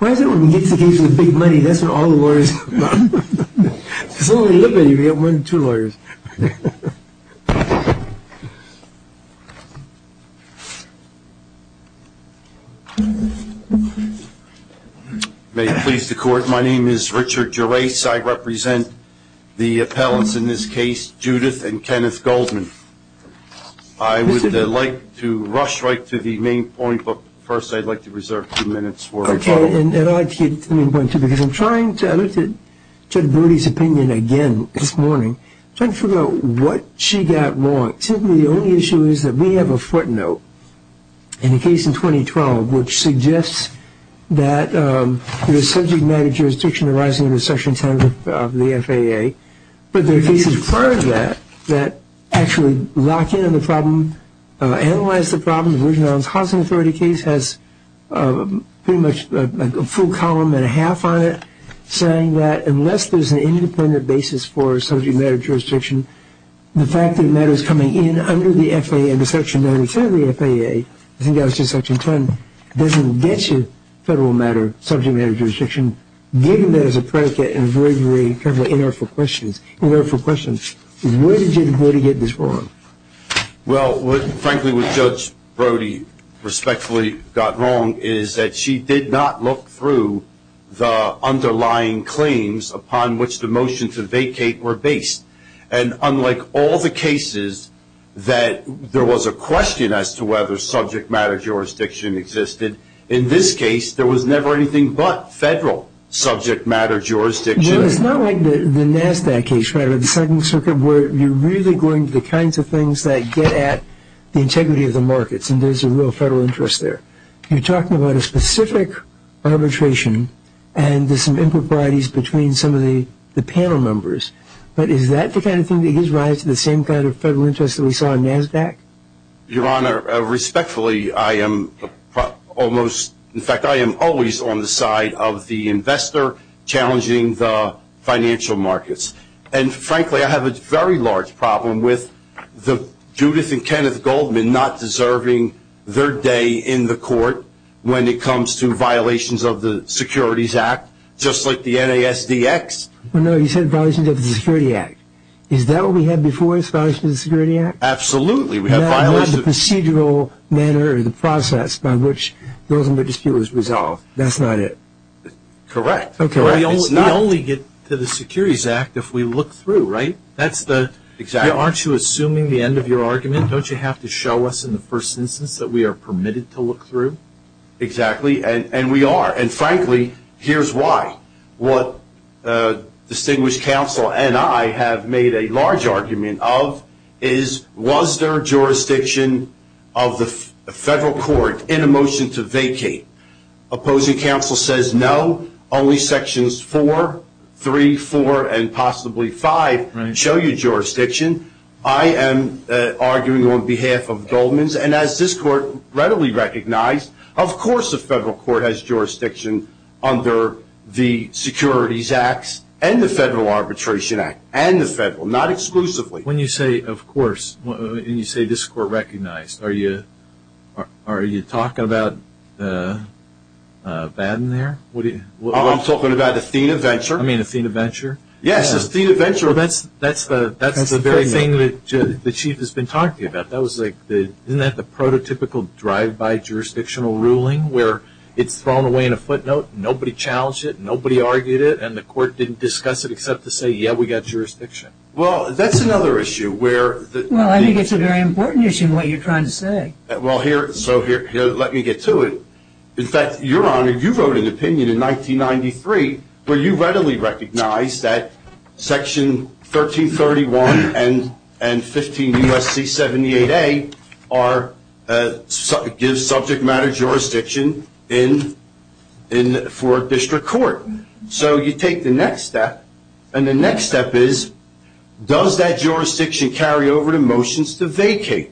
May it please the court, my name is Richard Gerace. I represent the appellants in this case. I would like to get to the main point because I'm trying to elicit Judge Brody's opinion again this morning. I'm trying to figure out what she got wrong. The only issue is that we have a footnote in the case in 2012 which suggests that there is subject matter jurisdiction arising under section 10 of the FAA. But there are cases prior to that that actually lock in on the problem, analyze the problem. The Virginia Island Housing Authority case has pretty much a full column and a half on it saying that unless there is an independent basis for subject matter jurisdiction, the fact that matter is coming in under the FAA under section 92 of the FAA, I think that was just section 10, doesn't get you federal matter subject matter jurisdiction. Given that as a predicate and a very, very inartful question, where did Judge Brody get this wrong? Well, what frankly what Judge Brody respectfully got wrong is that she did not look through the underlying claims upon which the motion to vacate were based. And unlike all the cases that there was a question as to whether subject matter jurisdiction existed, in this case there was never anything but federal subject matter jurisdiction. Well, it's not like the NASDAQ case, the second circuit where you're really going to the kinds of things that get at the integrity of the markets and there's a real federal interest there. You're talking about a specific arbitration and there's some improprieties between some of the panel members, but is that the kind of thing that gives rise to the same kind of federal interest that we saw in NASDAQ? Your Honor, respectfully I am almost, in fact I am always on the side of the investor challenging the financial markets. And frankly I have a very large problem with Judith and Kenneth Goldman not deserving their day in the court when it comes to violations of the Securities Act, just like the NASDX. No, you said violations of the Security Act. Is that what we had before, violations of the Security Act? Absolutely, we had violations. Not in the procedural manner or the process by which those individuals were resolved. That's not it. Correct. We only get to the Securities Act if we look through, right? Exactly. Aren't you assuming the end of your argument? Don't you have to show us in the first instance that we are permitted to look through? Exactly, and we are. And frankly, here's why. What distinguished counsel and I have made a large argument of is was there jurisdiction of the federal court in a motion to vacate? Opposing counsel says no, only sections 4, 3, 4, and possibly 5 show you jurisdiction. I am arguing on behalf of Goldman's, and as this court readily recognized, of course the federal court has jurisdiction under the Securities Act and the Federal Arbitration Act, and the federal, not exclusively. When you say, of course, and you say this court recognized, are you talking about Baden there? I'm talking about Athena Venture. You mean Athena Venture? Yes, Athena Venture. Well, that's the very thing that the Chief has been talking about. Isn't that the prototypical drive-by jurisdictional ruling where it's thrown away in a footnote, nobody challenged it, nobody argued it, and the court didn't discuss it except to say, yeah, we've got jurisdiction? Well, that's another issue. Well, I think it's a very important issue, what you're trying to say. Let me get to it. In fact, Your Honor, you wrote an opinion in 1993 where you readily recognized that section 1331 and 15 U.S.C. 78A gives subject matter jurisdiction for a district court. So you take the next step, and the next step is, does that jurisdiction carry over to motions to vacate?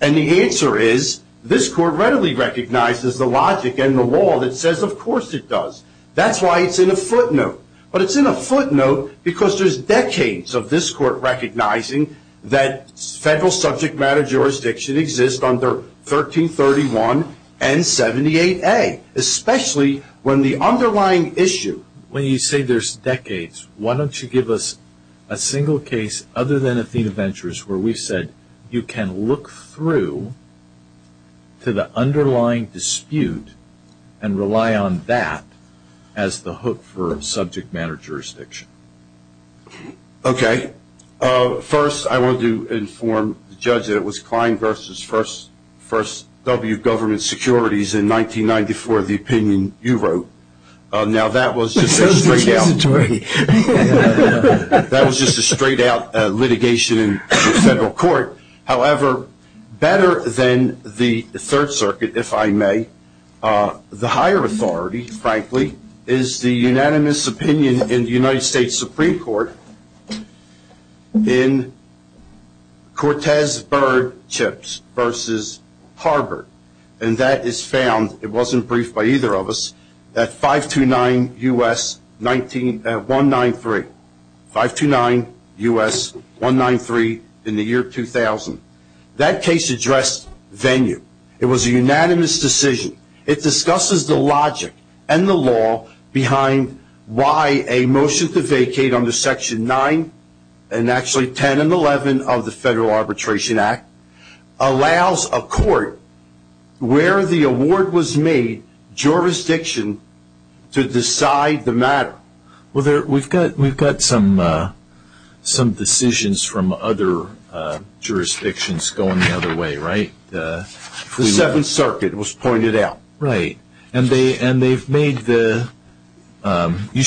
And the answer is, this court readily recognizes the logic and the law that says, of course it does. That's why it's in a footnote. But it's in a footnote because there's decades of this court recognizing that federal subject matter jurisdiction exists under 1331 and 78A, especially when the underlying issue. So when you say there's decades, why don't you give us a single case other than Athena Ventures where we've said you can look through to the underlying dispute and rely on that as the hook for subject matter jurisdiction? Okay. First, I wanted to inform the judge that it was Klein v. First W. Government Securities in 1994, the opinion you wrote. Now, that was just a straight-out litigation in the federal court. However, better than the Third Circuit, if I may, the higher authority, frankly, is the unanimous opinion in the United States Supreme Court in Cortez-Byrd-Chips v. Harbert. And that is found, it wasn't briefed by either of us, at 529 U.S. 193. 529 U.S. 193 in the year 2000. That case addressed venue. It was a unanimous decision. It discusses the logic and the law behind why a motion to vacate under Section 9 and actually 10 and 11 of the Federal Arbitration Act allows a court where the award was made jurisdiction to decide the matter. Well, we've got some decisions from other jurisdictions going the other way, right? The Seventh Circuit was pointed out. Right. And they've made the – you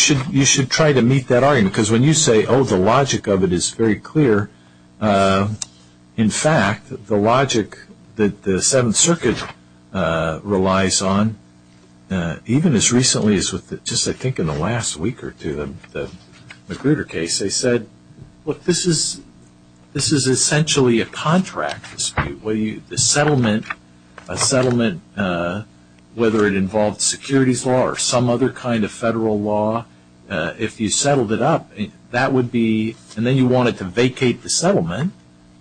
should try to meet that argument because when you say, oh, the logic of it is very clear, in fact, the logic that the Seventh Circuit relies on, even as recently as just, I think, in the last week or two, the Magruder case, they said, look, this is essentially a contract dispute. The settlement, whether it involved securities law or some other kind of federal law, if you settled it up, that would be – and then you wanted to vacate the settlement.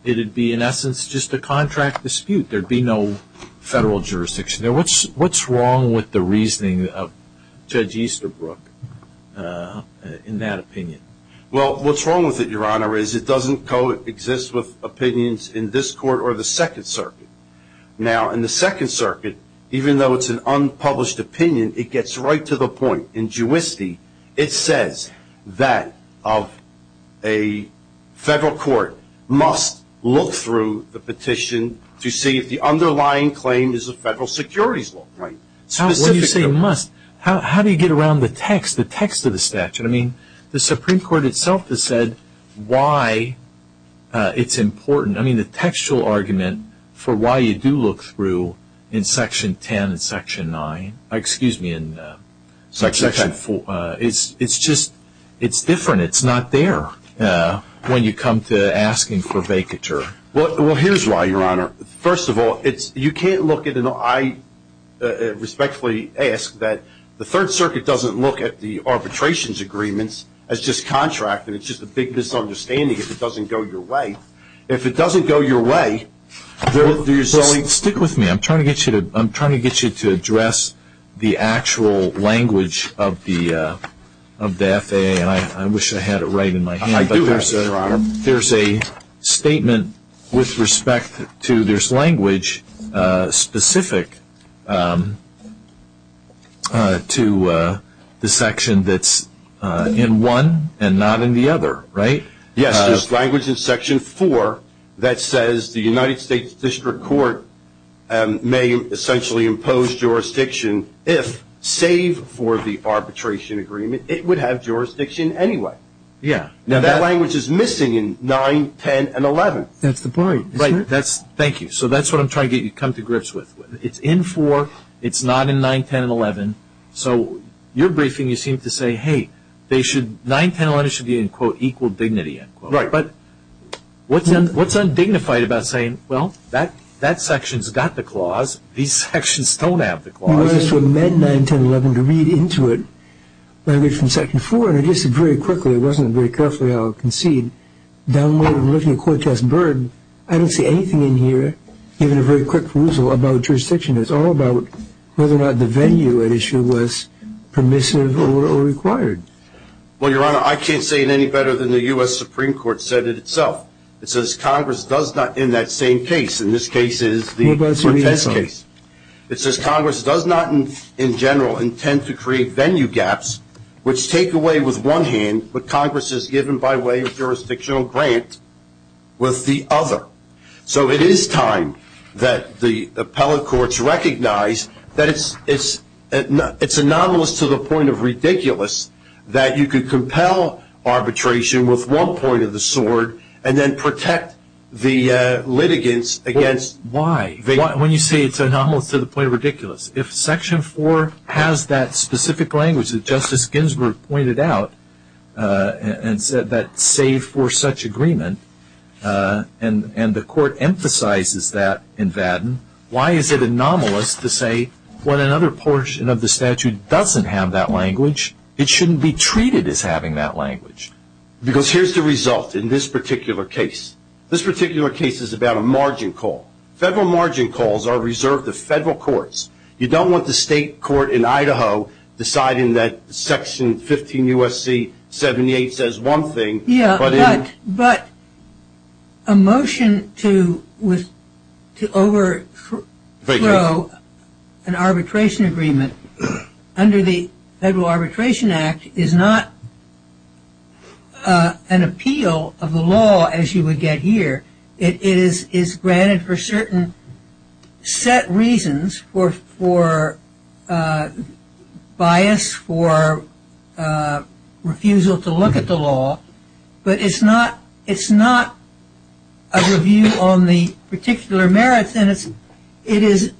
It would be, in essence, just a contract dispute. There would be no federal jurisdiction. Now, what's wrong with the reasoning of Judge Easterbrook in that opinion? Well, what's wrong with it, Your Honor, is it doesn't coexist with opinions in this Court or the Second Circuit. Now, in the Second Circuit, even though it's an unpublished opinion, it gets right to the point. It says that a federal court must look through the petition to see if the underlying claim is a federal securities law. How do you say must? How do you get around the text, the text of the statute? I mean, the Supreme Court itself has said why it's important. I mean, the textual argument for why you do look through in Section 10 and Section 9 – excuse me, in – Section 10. It's just – it's different. It's not there when you come to asking for vacature. Well, here's why, Your Honor. First of all, you can't look at – and I respectfully ask that the Third Circuit doesn't look at the arbitrations agreements as just contract, and it's just a big misunderstanding if it doesn't go your way. If it doesn't go your way, there's only – Well, stick with me. I'm trying to get you to address the actual language of the FAA, and I wish I had it right in my hand. I do have it, Your Honor. There's a statement with respect to – there's language specific to the section that's in one and not in the other, right? Yes, there's language in Section 4 that says the United States District Court may essentially impose jurisdiction if, save for the arbitration agreement, it would have jurisdiction anyway. Yeah. Now, that language is missing in 9, 10, and 11. That's the point, isn't it? Right. Thank you. So that's what I'm trying to get you to come to grips with. It's in 4. It's not in 9, 10, and 11. So your briefing, you seem to say, hey, 9, 10, and 11 should be in, quote, equal dignity, end quote. Right. But what's undignified about saying, well, that section's got the clause. These sections don't have the clause? Well, I asked for Med 9, 10, and 11 to read into it. I read from Section 4, and I just very quickly – it wasn't very carefully, I'll concede – downloaded and looked in the court test bird. I don't see anything in here, even a very quick perusal about jurisdiction. It's all about whether or not the venue at issue was permissive or required. Well, Your Honor, I can't say it any better than the U.S. Supreme Court said it itself. It says Congress does not, in that same case – and this case is the court test case – it says Congress does not, in general, intend to create venue gaps, which take away with one hand what Congress has given by way of jurisdictional grant with the other. So it is time that the appellate courts recognize that it's anomalous to the point of ridiculous that you could compel arbitration with one point of the sword and then protect the litigants against – Why, when you say it's anomalous to the point of ridiculous? If Section 4 has that specific language that Justice Ginsburg pointed out and said that save for such agreement, and the court emphasizes that in Vadden, why is it anomalous to say when another portion of the statute doesn't have that language, it shouldn't be treated as having that language? Because here's the result in this particular case. This particular case is about a margin call. Federal margin calls are reserved to federal courts. You don't want the state court in Idaho deciding that Section 15 U.S.C. 78 says one thing. Yeah, but a motion to overthrow an arbitration agreement under the Federal Arbitration Act is not an appeal of the law, as you would get here. It is granted for certain set reasons, for bias, for refusal to look at the law, but it's not a review on the particular merits. It is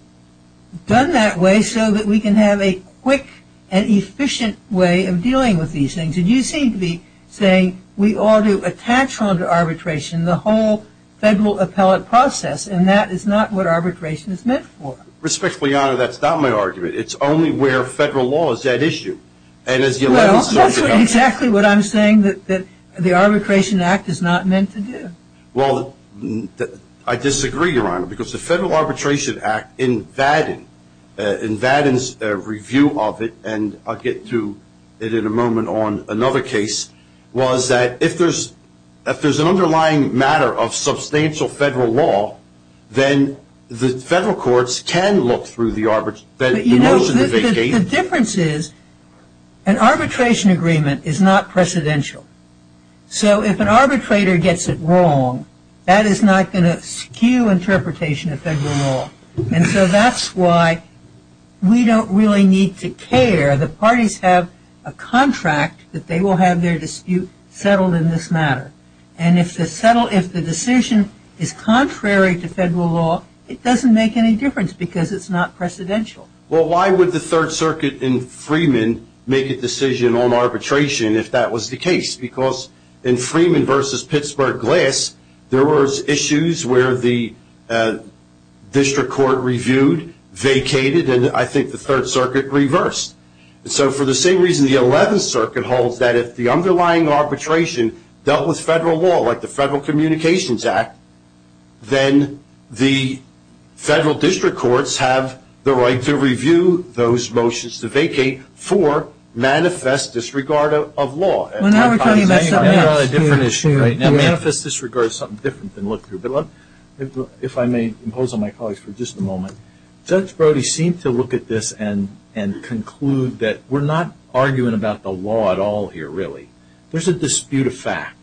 done that way so that we can have a quick and efficient way of dealing with these things. And you seem to be saying we ought to attach on to arbitration the whole federal appellate process, and that is not what arbitration is meant for. Respectfully, Your Honor, that's not my argument. It's only where federal law is at issue. Well, that's exactly what I'm saying, that the Arbitration Act is not meant to do. Well, I disagree, Your Honor, because the Federal Arbitration Act in Vadden, in Vadden's review of it, and I'll get to it in a moment on another case, was that if there's an underlying matter of substantial federal law, then the federal courts can look through the motion to vacate. But, you know, the difference is an arbitration agreement is not precedential. So if an arbitrator gets it wrong, that is not going to skew interpretation of federal law. And so that's why we don't really need to care. The parties have a contract that they will have their dispute settled in this matter. And if the decision is contrary to federal law, it doesn't make any difference because it's not precedential. Well, why would the Third Circuit in Freeman make a decision on arbitration if that was the case? Because in Freeman v. Pittsburgh Glass, there was issues where the district court reviewed, vacated, and I think the Third Circuit reversed. And so for the same reason the Eleventh Circuit holds that if the underlying arbitration dealt with federal law, like the Federal Communications Act, then the federal district courts have the right to review those motions to vacate for manifest disregard of law. I have a different issue right now. Manifest disregard is something different than look through. But if I may impose on my colleagues for just a moment, Judge Brody seemed to look at this and conclude that we're not arguing about the law at all here, really. There's a dispute of fact.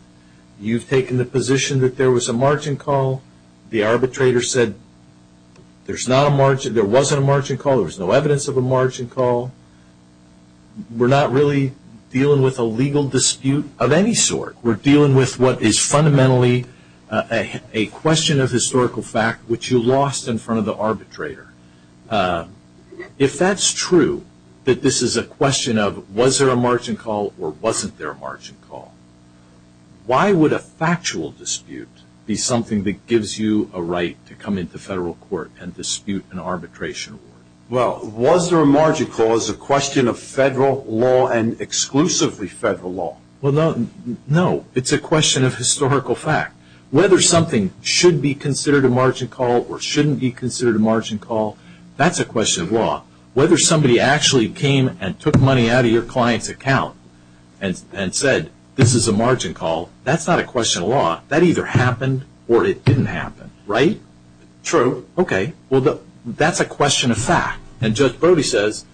You've taken the position that there was a margin call. The arbitrator said there wasn't a margin call, there was no evidence of a margin call. We're not really dealing with a legal dispute of any sort. We're dealing with what is fundamentally a question of historical fact, which you lost in front of the arbitrator. If that's true, that this is a question of was there a margin call or wasn't there a margin call, why would a factual dispute be something that gives you a right to come into federal court and dispute an arbitration? Well, was there a margin call is a question of federal law and exclusively federal law. No, it's a question of historical fact. Whether something should be considered a margin call or shouldn't be considered a margin call, that's a question of law. Whether somebody actually came and took money out of your client's account and said this is a margin call, that's not a question of law. That either happened or it didn't happen, right? True. Okay. Well, that's a question of fact. And Judge Brody says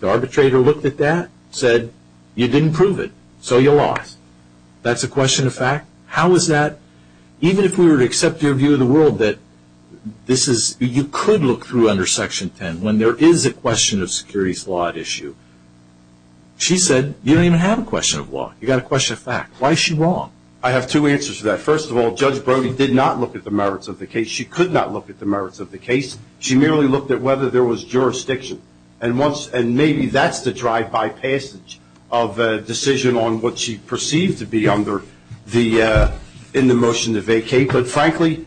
the arbitrator looked at that, said you didn't prove it, so you lost. That's a question of fact? How is that? Even if we were to accept your view of the world that you could look through under Section 10 when there is a question of securities law at issue, she said you don't even have a question of law. You've got a question of fact. Why is she wrong? I have two answers to that. First of all, Judge Brody did not look at the merits of the case. She could not look at the merits of the case. She merely looked at whether there was jurisdiction. And maybe that's the drive-by passage of a decision on what she perceived to be under in the motion to vacate. But, frankly,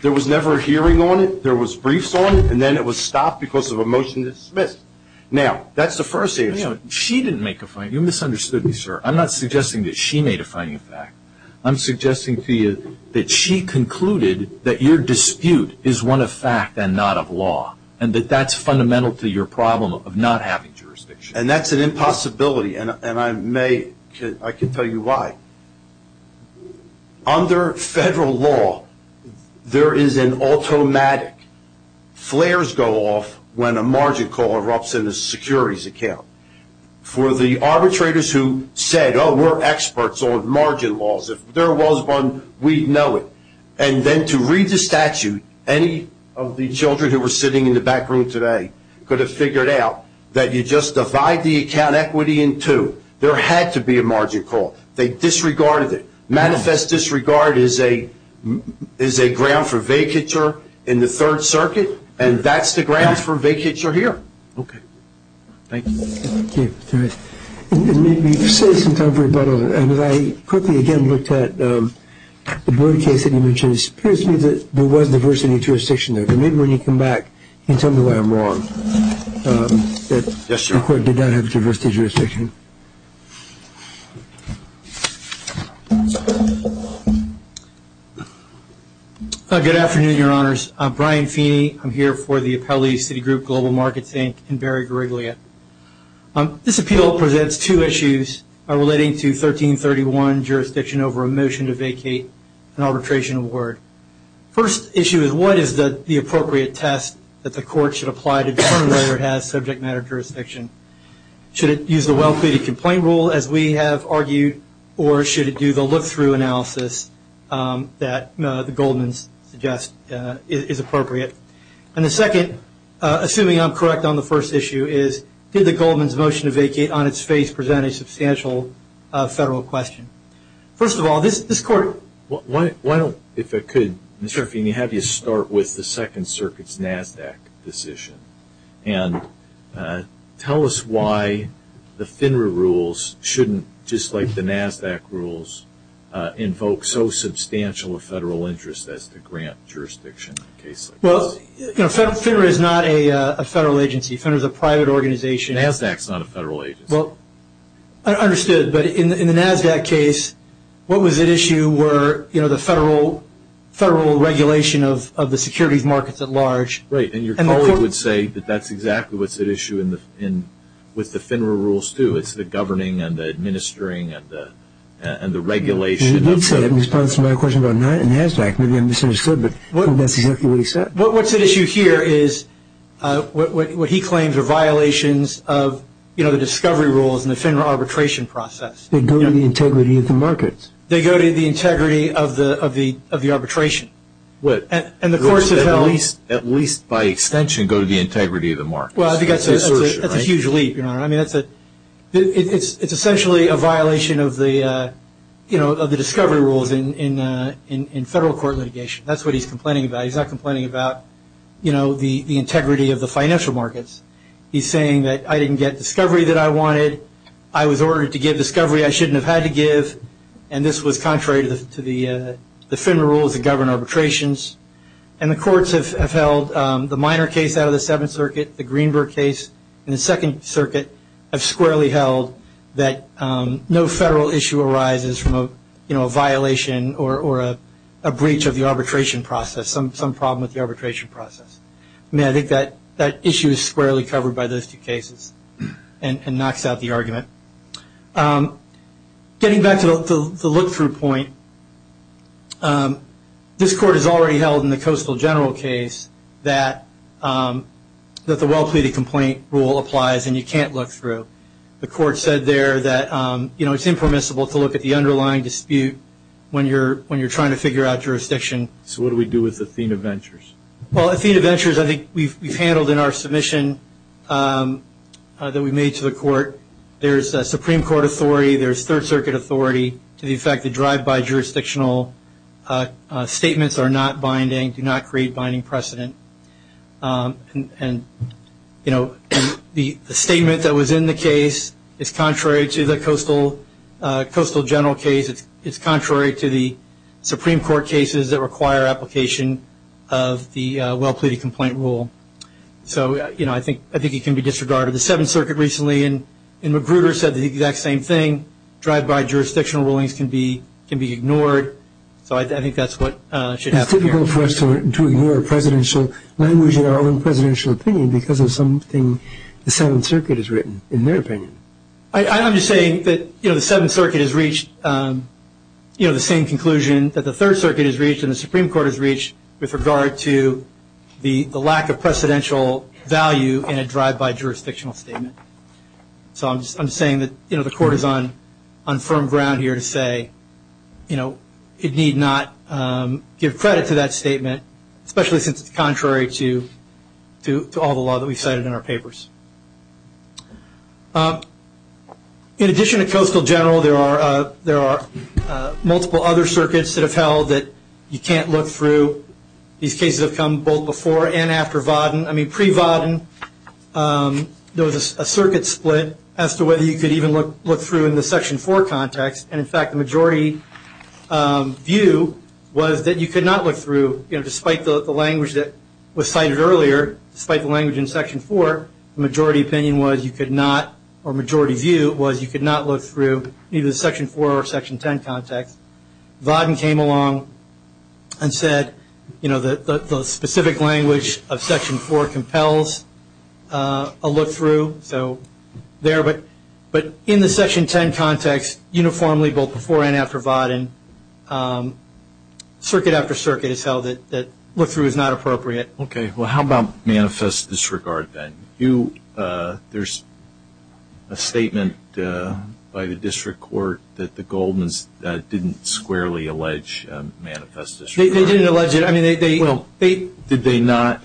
there was never a hearing on it. There was briefs on it, and then it was stopped because of a motion to dismiss. Now, that's the first answer. She didn't make a finding. You misunderstood me, sir. I'm not suggesting that she made a finding of fact. I'm suggesting to you that she concluded that your dispute is one of fact and not of law and that that's fundamental to your problem of not having jurisdiction. And that's an impossibility, and I can tell you why. Under federal law, there is an automatic. Flares go off when a margin call erupts in a securities account. For the arbitrators who said, oh, we're experts on margin laws. If there was one, we'd know it. And then to read the statute, any of the children who were sitting in the back room today could have figured out that you just divide the account equity in two. There had to be a margin call. They disregarded it. Manifest disregard is a ground for vacature in the Third Circuit, and that's the grounds for vacature here. Okay. Thank you. Okay. That's all right. We've saved some time for rebuttal, and as I quickly again looked at the Brewer case that you mentioned, it appears to me that there was diversity of jurisdiction there. Maybe when you come back, you can tell me why I'm wrong. Yes, sir. The court did not have diversity of jurisdiction. Good afternoon, Your Honors. I'm Brian Feeney. I'm here for the Appellee City Group, Global Markets, Inc., and Barry Gariglia. This appeal presents two issues relating to 1331, jurisdiction over a motion to vacate an arbitration award. First issue is what is the appropriate test that the court should apply to determine whether it has subject matter jurisdiction? Should it use the well-created complaint rule, as we have argued, or should it do the look-through analysis that the Goldman's suggest is appropriate? And the second, assuming I'm correct on the first issue, is did the Goldman's motion to vacate on its face present a substantial federal question? First of all, this court- Why don't, if I could, Mr. Feeney, have you start with the Second Circuit's NASDAQ decision and tell us why the FINRA rules shouldn't, just like the NASDAQ rules, invoke so substantial a federal interest as to grant jurisdiction in a case like this? FINRA is not a federal agency. FINRA is a private organization. NASDAQ is not a federal agency. I understood, but in the NASDAQ case, what was at issue were the federal regulation of the securities markets at large. Right, and your colleague would say that that's exactly what's at issue with the FINRA rules, too. It's the governing and the administering and the regulation of the- He did say that in response to my question about NASDAQ. Maybe I misunderstood, but that's exactly what he said. What's at issue here is what he claims are violations of the discovery rules in the FINRA arbitration process. They go to the integrity of the markets. They go to the integrity of the arbitration. And the courts have held- At least by extension go to the integrity of the markets. Well, I think that's a huge leap, Your Honor. I mean, it's essentially a violation of the discovery rules in federal court litigation. That's what he's complaining about. He's not complaining about the integrity of the financial markets. He's saying that I didn't get discovery that I wanted. I was ordered to give discovery I shouldn't have had to give, and this was contrary to the FINRA rules that govern arbitrations. And the courts have held the minor case out of the Seventh Circuit, the Greenberg case, and the Second Circuit have squarely held that no federal issue arises from a violation or a breach of the arbitration process, some problem with the arbitration process. I mean, I think that issue is squarely covered by those two cases and knocks out the argument. Getting back to the look-through point, this court has already held in the Coastal General case that the well-pleaded complaint rule applies and you can't look through. The court said there that it's impermissible to look at the underlying dispute when you're trying to figure out jurisdiction. So what do we do with Athena Ventures? Well, Athena Ventures I think we've handled in our submission that we made to the court. There's Supreme Court authority. There's Third Circuit authority to the effect that drive-by jurisdictional statements are not binding, do not create binding precedent. And, you know, the statement that was in the case is contrary to the Coastal General case. It's contrary to the Supreme Court cases that require application of the well-pleaded complaint rule. So, you know, I think it can be disregarded. The Seventh Circuit recently in Magruder said the exact same thing, drive-by jurisdictional rulings can be ignored. So I think that's what should happen here. It's typical for us to ignore presidential language in our own presidential opinion because of something the Seventh Circuit has written, in their opinion. I'm just saying that, you know, the Seventh Circuit has reached, you know, the same conclusion that the Third Circuit has reached and the Supreme Court has reached with regard to the lack of presidential value in a drive-by jurisdictional statement. So I'm saying that, you know, the court is on firm ground here to say, you know, it need not give credit to that statement, especially since it's contrary to all the law that we've cited in our papers. In addition to Coastal General, there are multiple other circuits that have held that you can't look through. These cases have come both before and after Vodden. I mean, pre-Vodden, there was a circuit split as to whether you could even look through in the Section 4 context, and, in fact, the majority view was that you could not look through, you know, despite the language that was cited earlier, despite the language in Section 4, the majority opinion was you could not, or majority view was you could not look through either the Section 4 or Section 10 context. Vodden came along and said, you know, that the specific language of Section 4 compels a look through, so there. But in the Section 10 context, uniformly both before and after Vodden, circuit after circuit has held that look through is not appropriate. Well, how about manifest disregard, then? There's a statement by the district court that the Goldmans didn't squarely allege manifest disregard. They didn't allege it. Well, did they not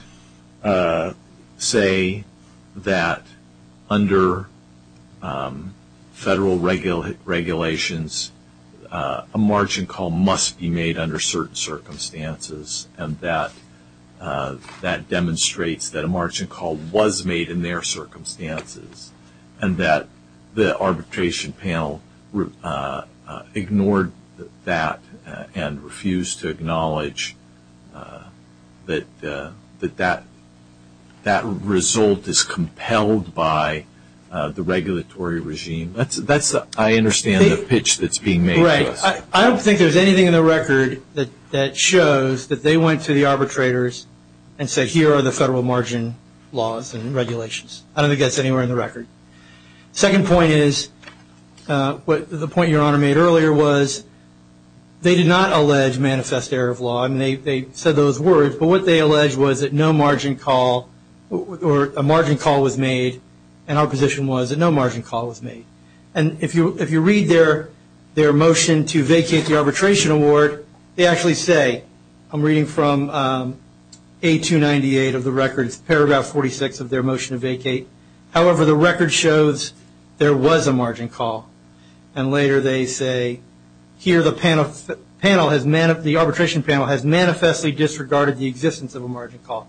say that under federal regulations, a margin call must be made under certain circumstances, and that demonstrates that a margin call was made in their circumstances, and that the arbitration panel ignored that and refused to acknowledge that that result is compelled by the regulatory regime? That's, I understand, the pitch that's being made to us. I don't think there's anything in the record that shows that they went to the arbitrators and said here are the federal margin laws and regulations. I don't think that's anywhere in the record. Second point is, the point Your Honor made earlier was they did not allege manifest error of law. I mean, they said those words, but what they alleged was that no margin call, or a margin call was made, and our position was that no margin call was made. And if you read their motion to vacate the arbitration award, they actually say, I'm reading from A298 of the record, it's paragraph 46 of their motion to vacate. However, the record shows there was a margin call. And later they say here the panel has, the arbitration panel has manifestly disregarded the existence of a margin call.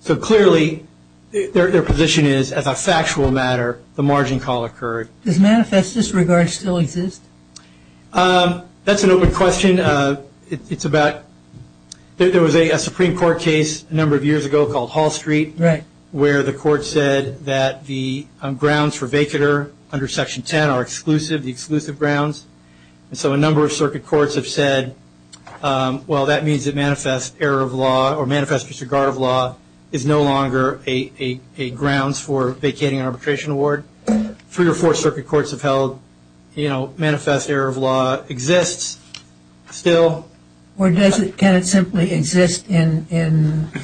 So clearly their position is as a factual matter the margin call occurred. Does manifest disregard still exist? That's an open question. It's about, there was a Supreme Court case a number of years ago called Hall Street, where the court said that the grounds for vacater under Section 10 are exclusive, the exclusive grounds. So a number of circuit courts have said, well, that means that manifest error of law or manifest disregard of law is no longer a grounds for vacating an arbitration award. Three or four circuit courts have held, you know, manifest error of law exists still. Or can it simply exist in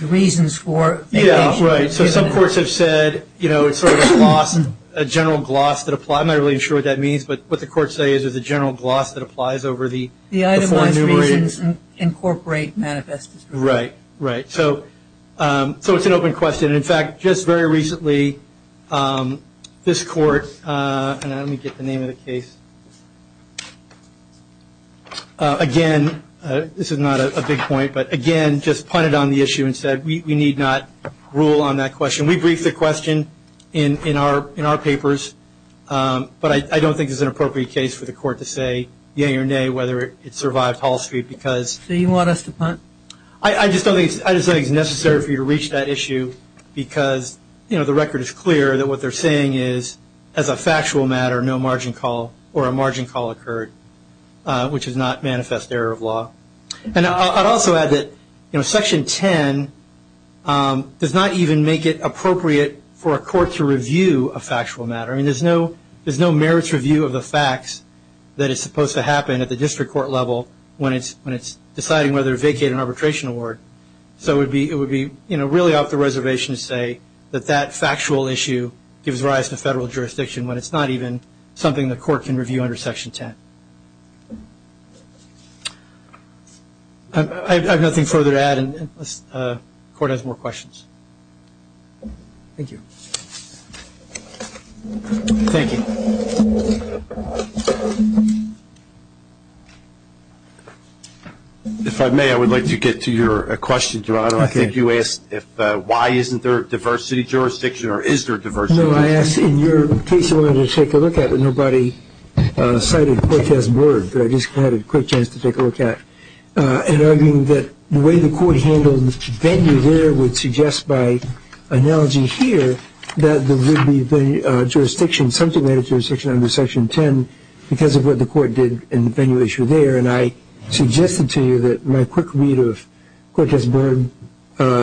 the reasons for vacations? Yeah, right. So some courts have said, you know, it's sort of a gloss, a general gloss that applies. I'm not really sure what that means, but what the courts say is there's a general gloss that applies over the The itemized reasons incorporate manifest disregard. Right, right. So it's an open question. And, in fact, just very recently this court, and let me get the name of the case. Again, this is not a big point, but, again, just punted on the issue and said we need not rule on that question. We briefed the question in our papers, but I don't think it's an appropriate case for the court to say, yay or nay, whether it survived Hall Street because. So you want us to punt? I just don't think it's necessary for you to reach that issue because, you know, the record is clear that what they're saying is as a factual matter no margin call or a margin call occurred, which is not manifest error of law. And I'd also add that, you know, Section 10 does not even make it appropriate for a court to review a factual matter. I mean, there's no merits review of the facts that is supposed to happen at the district court level when it's deciding whether to vacate an arbitration award. So it would be really off the reservation to say that that factual issue gives rise to federal jurisdiction when it's not even something the court can review under Section 10. I have nothing further to add unless the court has more questions. Thank you. Thank you. If I may, I would like to get to your question, Geronimo. I think you asked why isn't there a diversity jurisdiction or is there a diversity jurisdiction? No, I asked in your case I wanted to take a look at, but nobody cited Cortez-Board, but I just had a quick chance to take a look at, and arguing that the way the court handled venue there would suggest by analogy here that there would be a jurisdiction, something like a jurisdiction under Section 10, because of what the court did in the venue issue there. And I suggested to you that my quick read of Cortez-Board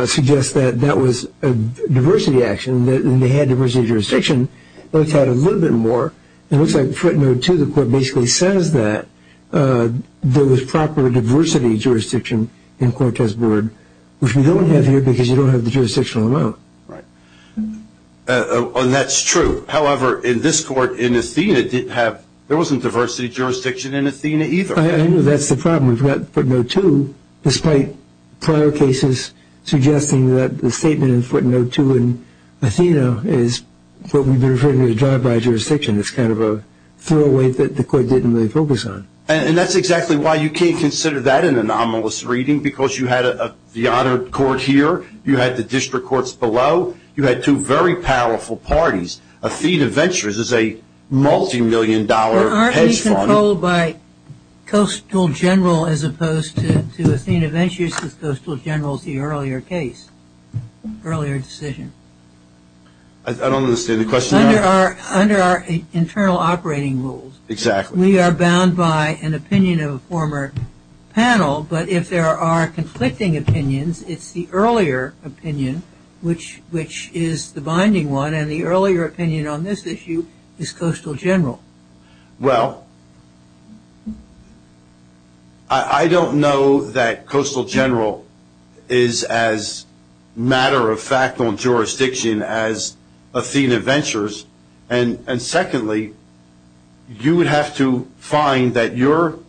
suggests that that was a diversity action and they had diversity jurisdiction. Let's add a little bit more. It looks like footnote 2, the court basically says that there was proper diversity jurisdiction in Cortez-Board, which we don't have here because you don't have the jurisdictional amount. Right. And that's true. However, in this court, in Athena, there wasn't diversity jurisdiction in Athena either. I know that's the problem. We've got footnote 2, despite prior cases suggesting that the statement in footnote 2 in Athena is what we've been referring to as a drive-by jurisdiction. It's kind of a throwaway that the court didn't really focus on. And that's exactly why you can't consider that an anomalous reading, because you had the honored court here, you had the district courts below, you had two very powerful parties. Athena Ventures is a multimillion-dollar hedge fund. Aren't these controlled by Coastal General as opposed to Athena Ventures? Because Coastal General is the earlier case, earlier decision. I don't understand the question. Under our internal operating rules, we are bound by an opinion of a former panel, but if there are conflicting opinions, it's the earlier opinion, which is the binding one, and the earlier opinion on this issue is Coastal General. Well, I don't know that Coastal General is as matter-of-fact on jurisdiction as Athena Ventures. And secondly, you would have to find that your,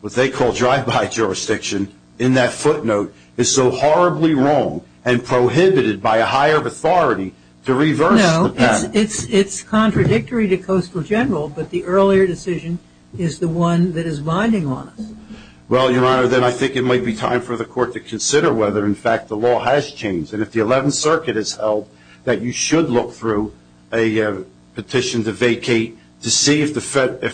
what they call drive-by jurisdiction, in that footnote, is so horribly wrong and prohibited by a higher authority to reverse the path. It's contradictory to Coastal General, but the earlier decision is the one that is binding on us. Well, Your Honor, then I think it might be time for the court to consider whether, in fact, the law has changed. And if the 11th Circuit has held that you should look through a petition to vacate to see if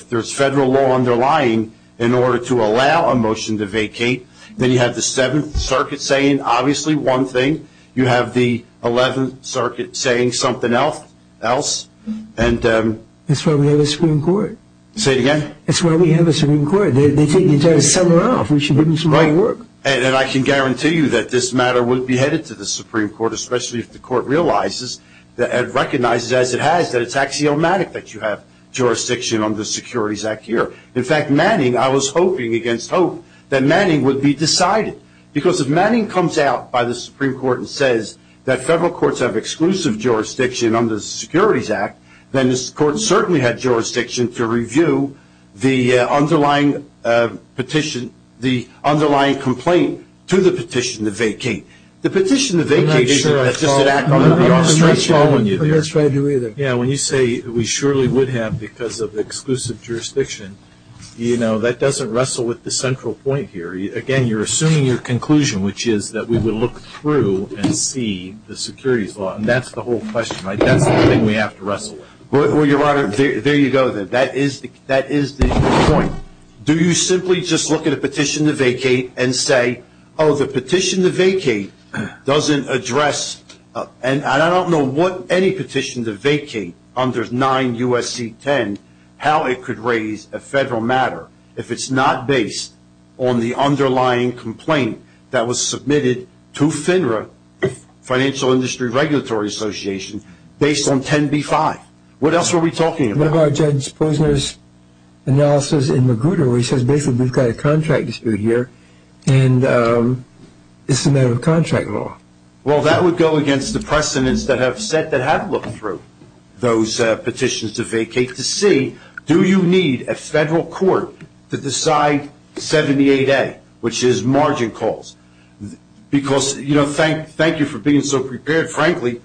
there's federal law underlying in order to allow a motion to vacate, then you have the 7th Circuit saying obviously one thing, you have the 11th Circuit saying something else. That's why we have a Supreme Court. Say it again. That's why we have a Supreme Court. They take the entire summer off. We should give them some great work. And I can guarantee you that this matter would be headed to the Supreme Court, especially if the court realizes and recognizes, as it has, that it's axiomatic that you have jurisdiction on the Securities Act here. In fact, Manning, I was hoping against hope that Manning would be decided, because if Manning comes out by the Supreme Court and says that federal courts have exclusive jurisdiction under the Securities Act, then this court certainly had jurisdiction to review the underlying petition, the underlying complaint to the petition to vacate. The petition to vacate isn't just an act on the authority. I'm not sure I saw that. I'm not following you there. I'm not following you either. Yeah, when you say we surely would have because of exclusive jurisdiction, you know, that doesn't wrestle with the central point here. Again, you're assuming your conclusion, which is that we would look through and see the securities law, and that's the whole question. That's the thing we have to wrestle with. Well, Your Honor, there you go. That is the point. Do you simply just look at a petition to vacate and say, oh, the petition to vacate doesn't address, and I don't know what any petition to vacate under 9 U.S.C. 10, how it could raise a federal matter if it's not based on the underlying complaint that was submitted to FINRA, Financial Industry Regulatory Association, based on 10b-5. What else were we talking about? What about Judge Posner's analysis in Magruder where he says basically we've got a contract dispute here, and it's a matter of contract law. Well, that would go against the precedents that have said that have looked through those petitions to vacate do you need a federal court to decide 78A, which is margin calls? Because, you know, thank you for being so prepared. Frankly,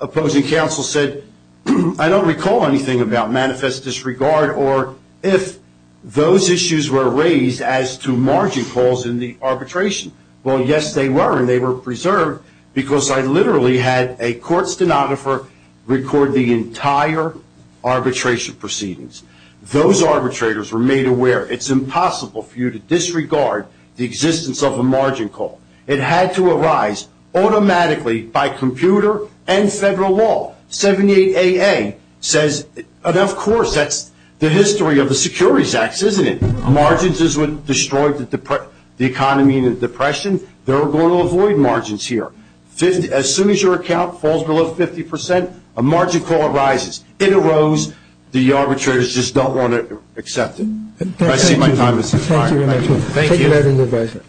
opposing counsel said I don't recall anything about manifest disregard or if those issues were raised as to margin calls in the arbitration. Well, yes, they were, and they were preserved, because I literally had a court stenographer record the entire arbitration proceedings. Those arbitrators were made aware it's impossible for you to disregard the existence of a margin call. It had to arise automatically by computer and federal law. 78AA says, and, of course, that's the history of the Securities Acts, isn't it? Margins is what destroyed the economy in the Depression. They were going to avoid margins here. As soon as your account falls below 50%, a margin call arises. It arose. The arbitrators just don't want to accept it. I see my time is up. Thank you very much. Thank you.